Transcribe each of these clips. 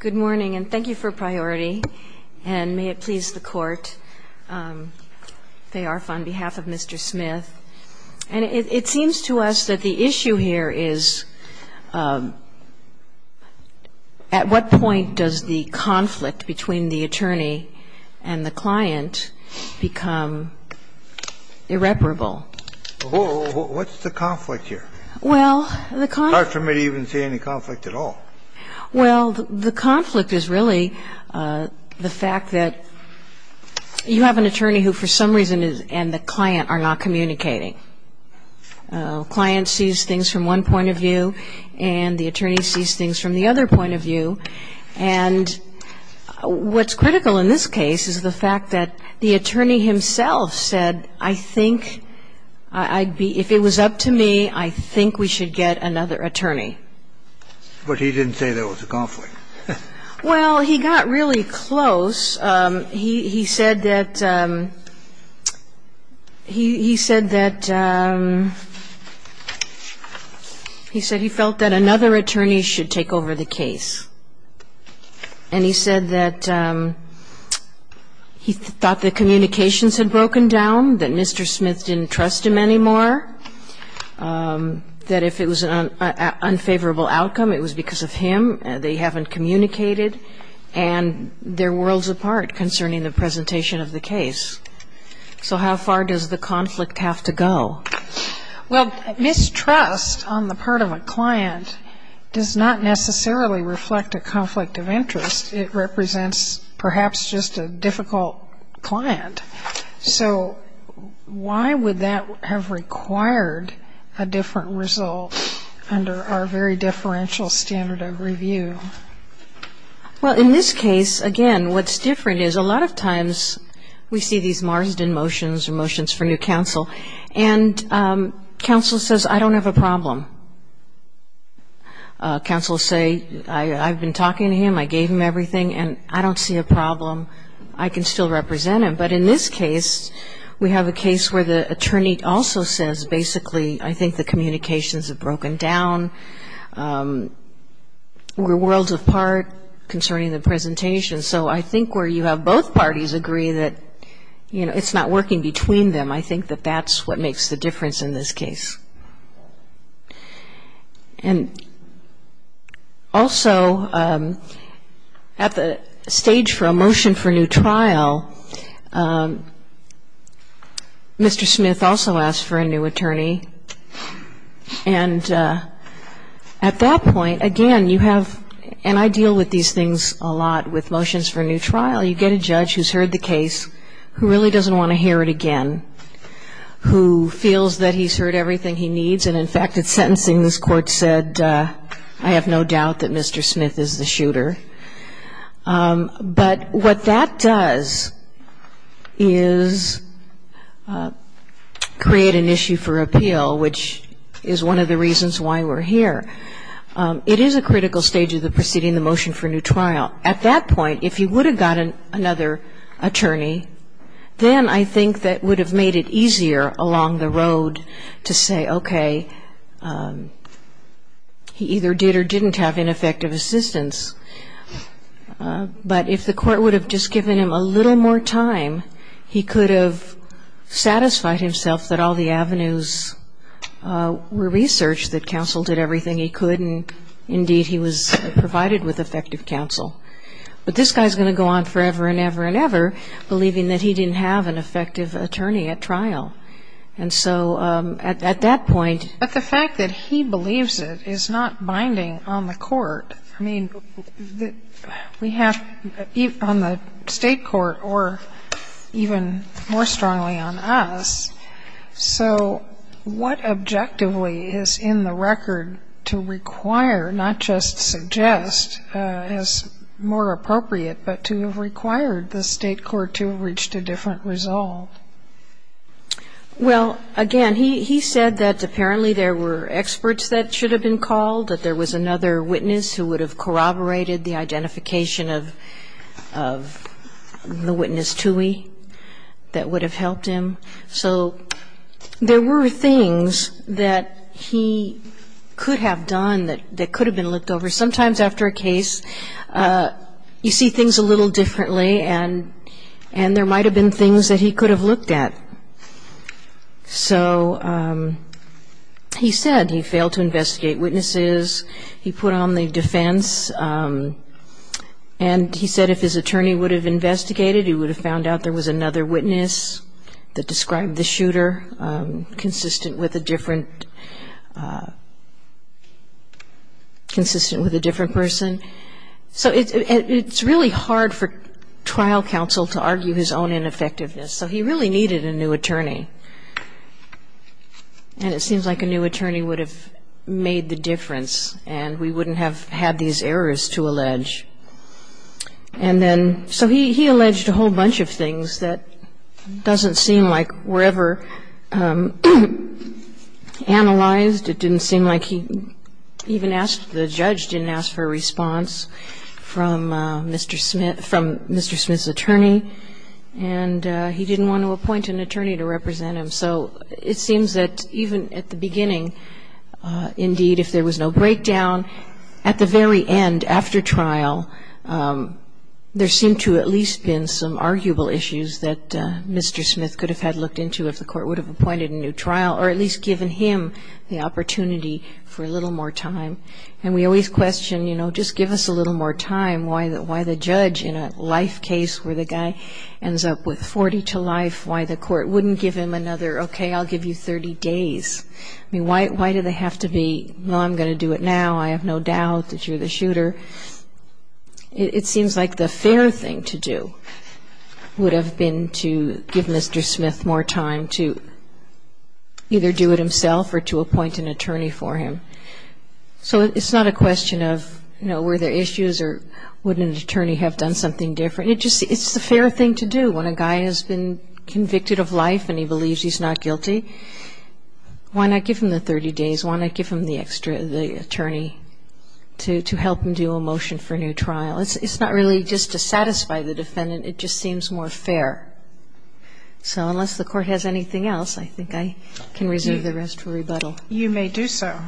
Good morning, and thank you for priority, and may it please the Court, Faye Arf on behalf of Mr. Smith. And it seems to us that the issue here is, at what point does the conflict between the attorney and the client become irreparable? What's the conflict here? Well, the conflict It's hard for me to even see any conflict at all. Well, the conflict is really the fact that you have an attorney who, for some reason, and the client are not communicating. The client sees things from one point of view, and the attorney sees things from the other point of view. And what's critical in this case is the fact that the attorney himself said, I think, if it was up to me, I think we should get another attorney. But he didn't say there was a conflict. Well, he got really close. He said that he said that he said he felt that another attorney should take over the case. And he said that he thought the communications had broken down, that Mr. Smith didn't trust him anymore, that if it was an unfair case, it would be a favorable outcome, it was because of him, they haven't communicated, and they're worlds apart concerning the presentation of the case. So how far does the conflict have to go? Well, mistrust on the part of a client does not necessarily reflect a conflict of interest. It represents, perhaps, just a difficult client. So why would that have required a different result under our very differential standard of review? Well, in this case, again, what's different is a lot of times we see these Marsden motions or motions for new counsel, and counsel says, I don't have a problem. Counsel say, I've been talking to him, I gave him everything, and I don't see a problem. I can still represent him. But in this case, we have a case where the attorney also says, basically, I think the communications have broken down, we're worlds apart concerning the presentation. So I think where you have both parties agree that, you know, it's not working between them, I think that that's what makes the difference in this case. And also, at the stage for a motion for new trial, Mr. Smith also asked for a new attorney. And at that point, again, you have, and I deal with these things a lot with motions for a new trial, you get a judge who's heard the case, who really doesn't want to hear it again, who feels that he's heard everything he needs, and in fact, at sentencing, this court said, I have no doubt that Mr. Smith is the shooter. But what that does is create an issue for appeal, which is one of the reasons why we're here. It is a critical stage of the proceeding, the motion for a new trial. Now, at that point, if he would have got another attorney, then I think that would have made it easier along the road to say, okay, he either did or didn't have ineffective assistance. But if the court would have just given him a little more time, he could have satisfied himself that all the avenues were researched, that counsel did everything he could, and indeed, he was provided with effective counsel. But this guy's going to go on forever and ever and ever, believing that he didn't have an effective attorney at trial. And so at that point — But the fact that he believes it is not binding on the court. I mean, we have — on the State court, or even more strongly on us, so what objectively is in the record to require, not just suggest as more appropriate, but to have required the State court to have reached a different result? Well, again, he said that apparently there were experts that should have been called, that there was another witness who would have corroborated the identification of the witness, Toohey, that would have helped him. So there were things that he could have done that could have been looked over. Sometimes after a case, you see things a little differently, and there might have been things that he could have looked at. So he said he failed to investigate witnesses. He put on the defense, and he said if his attorney would have investigated, he would have found out there was another witness that described the shooter consistent with a different — consistent with a different person. So it's really hard for trial counsel to argue his own ineffectiveness. So he really needed a new attorney. And it seems like a new attorney would have made the difference, and we wouldn't have had these errors to allege. And then — so he alleged a whole bunch of things that doesn't seem like were ever analyzed. It didn't seem like he even asked — the judge didn't ask for a response from Mr. Smith — from Mr. Smith's attorney. And he didn't want to appoint an attorney to represent him. So it seems that even at the beginning, indeed, if there was no breakdown, at the very end, after trial, there seemed to have at least been some arguable issues that Mr. Smith could have had looked into if the court would have appointed a new trial, or at least given him the opportunity for a little more time. And we always question, you know, just give us a little more time. Why the judge, in a life case where the guy ends up with 40 to life, why the court wouldn't give him another, okay, I'll give you 30 days? I mean, why do they have to be, well, I'm going to do it now. I have no doubt that you're the shooter. It seems like the fair thing to do would have been to give Mr. Smith more time to either do it himself or to appoint an attorney for him. So it's not a question of, you know, were there issues or would an attorney have done something different? It's the fair thing to do. When a guy has been convicted of life and he believes he's not guilty, why not give him the 30 days? Why not give him the attorney to help him do a motion for a new trial? It's not really just to satisfy the defendant. It just seems more fair. So unless the court has anything else, I think I can reserve the rest for rebuttal. You may do so.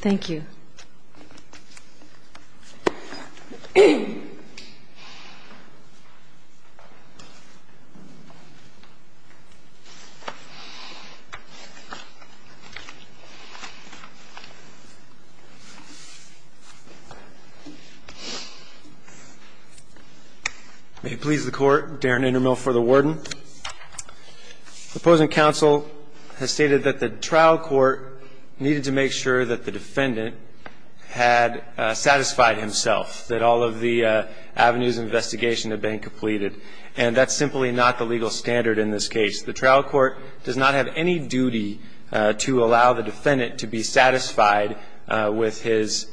Thank you. May it please the court, Darren Indermill for the warden. The opposing counsel has stated that the trial court needed to make sure that the defendant had satisfied himself, that all of the avenues of investigation had been completed. And that's simply not the legal standard in this case. The trial court does not have any duty to allow the defendant to be satisfied with his,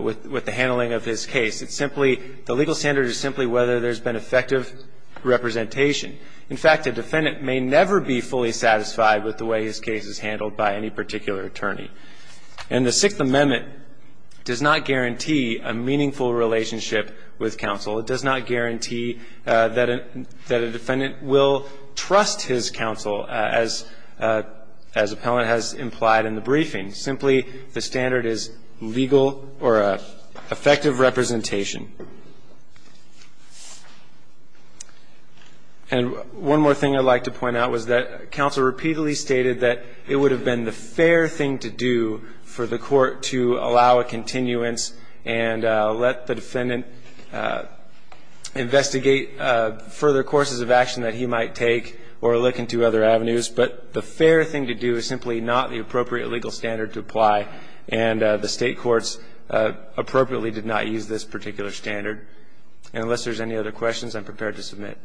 with the handling of his case. It's simply, the legal standard is simply whether there's been effective representation. In fact, a defendant may never be fully satisfied with the way his case is handled by any particular attorney. And the Sixth Amendment does not guarantee a meaningful relationship with counsel. It does not guarantee that a defendant will trust his counsel as appellant has implied in the briefing. Simply, the standard is legal or effective representation. And one more thing I'd like to point out was that counsel repeatedly stated that it would have been the fair thing to do for the court to allow a continuance and let the defendant investigate further courses of action that he might take or look into other avenues. But the fair thing to do is simply not the appropriate legal standard to apply. And the State courts appropriately did not use this particular standard. And unless there's any other questions, I'm prepared to submit.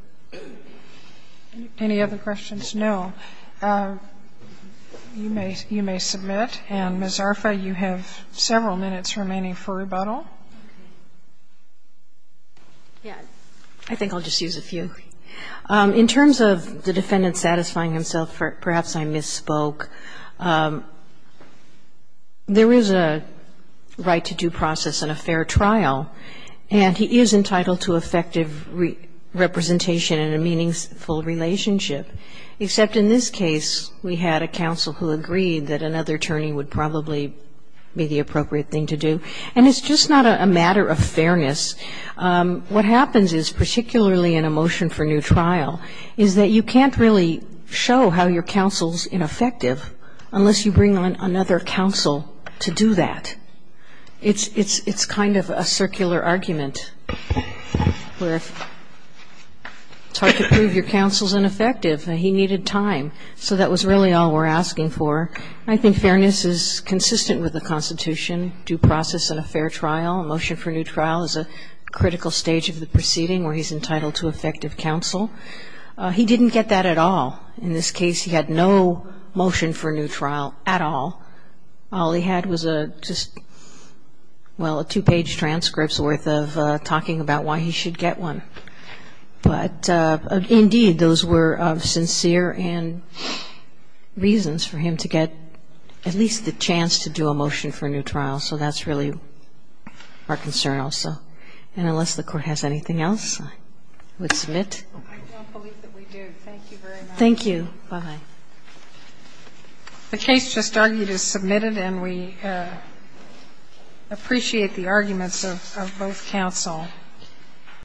Any other questions? No. You may submit. And, Ms. Arfa, you have several minutes remaining for rebuttal. I think I'll just use a few. In terms of the defendant satisfying himself, perhaps I misspoke. There is a right to due process and a fair trial. And he is entitled to effective representation in a meaningful relationship, except in this case we had a counsel who agreed that another attorney would probably be the appropriate thing to do. And it's just not a matter of fairness. What happens is, particularly in a motion for new trial, is that you can't really show how your counsel's ineffective unless you bring on another counsel to do that. It's kind of a circular argument where it's hard to prove your counsel's ineffective and he needed time. So that was really all we're asking for. I think fairness is consistent with the Constitution, due process and a fair trial. Motion for new trial is a critical stage of the proceeding where he's entitled to effective counsel. He didn't get that at all. In this case he had no motion for new trial at all. All he had was just, well, a two-page transcript's worth of talking about why he should get one. But, indeed, those were of sincere reasons for him to get at least the chance to do a motion for new trial. So that's really our concern also. And unless the Court has anything else, I would submit. I don't believe that we do. Thank you very much. Thank you. Bye-bye. The case just argued is submitted, and we appreciate the arguments of both counsel.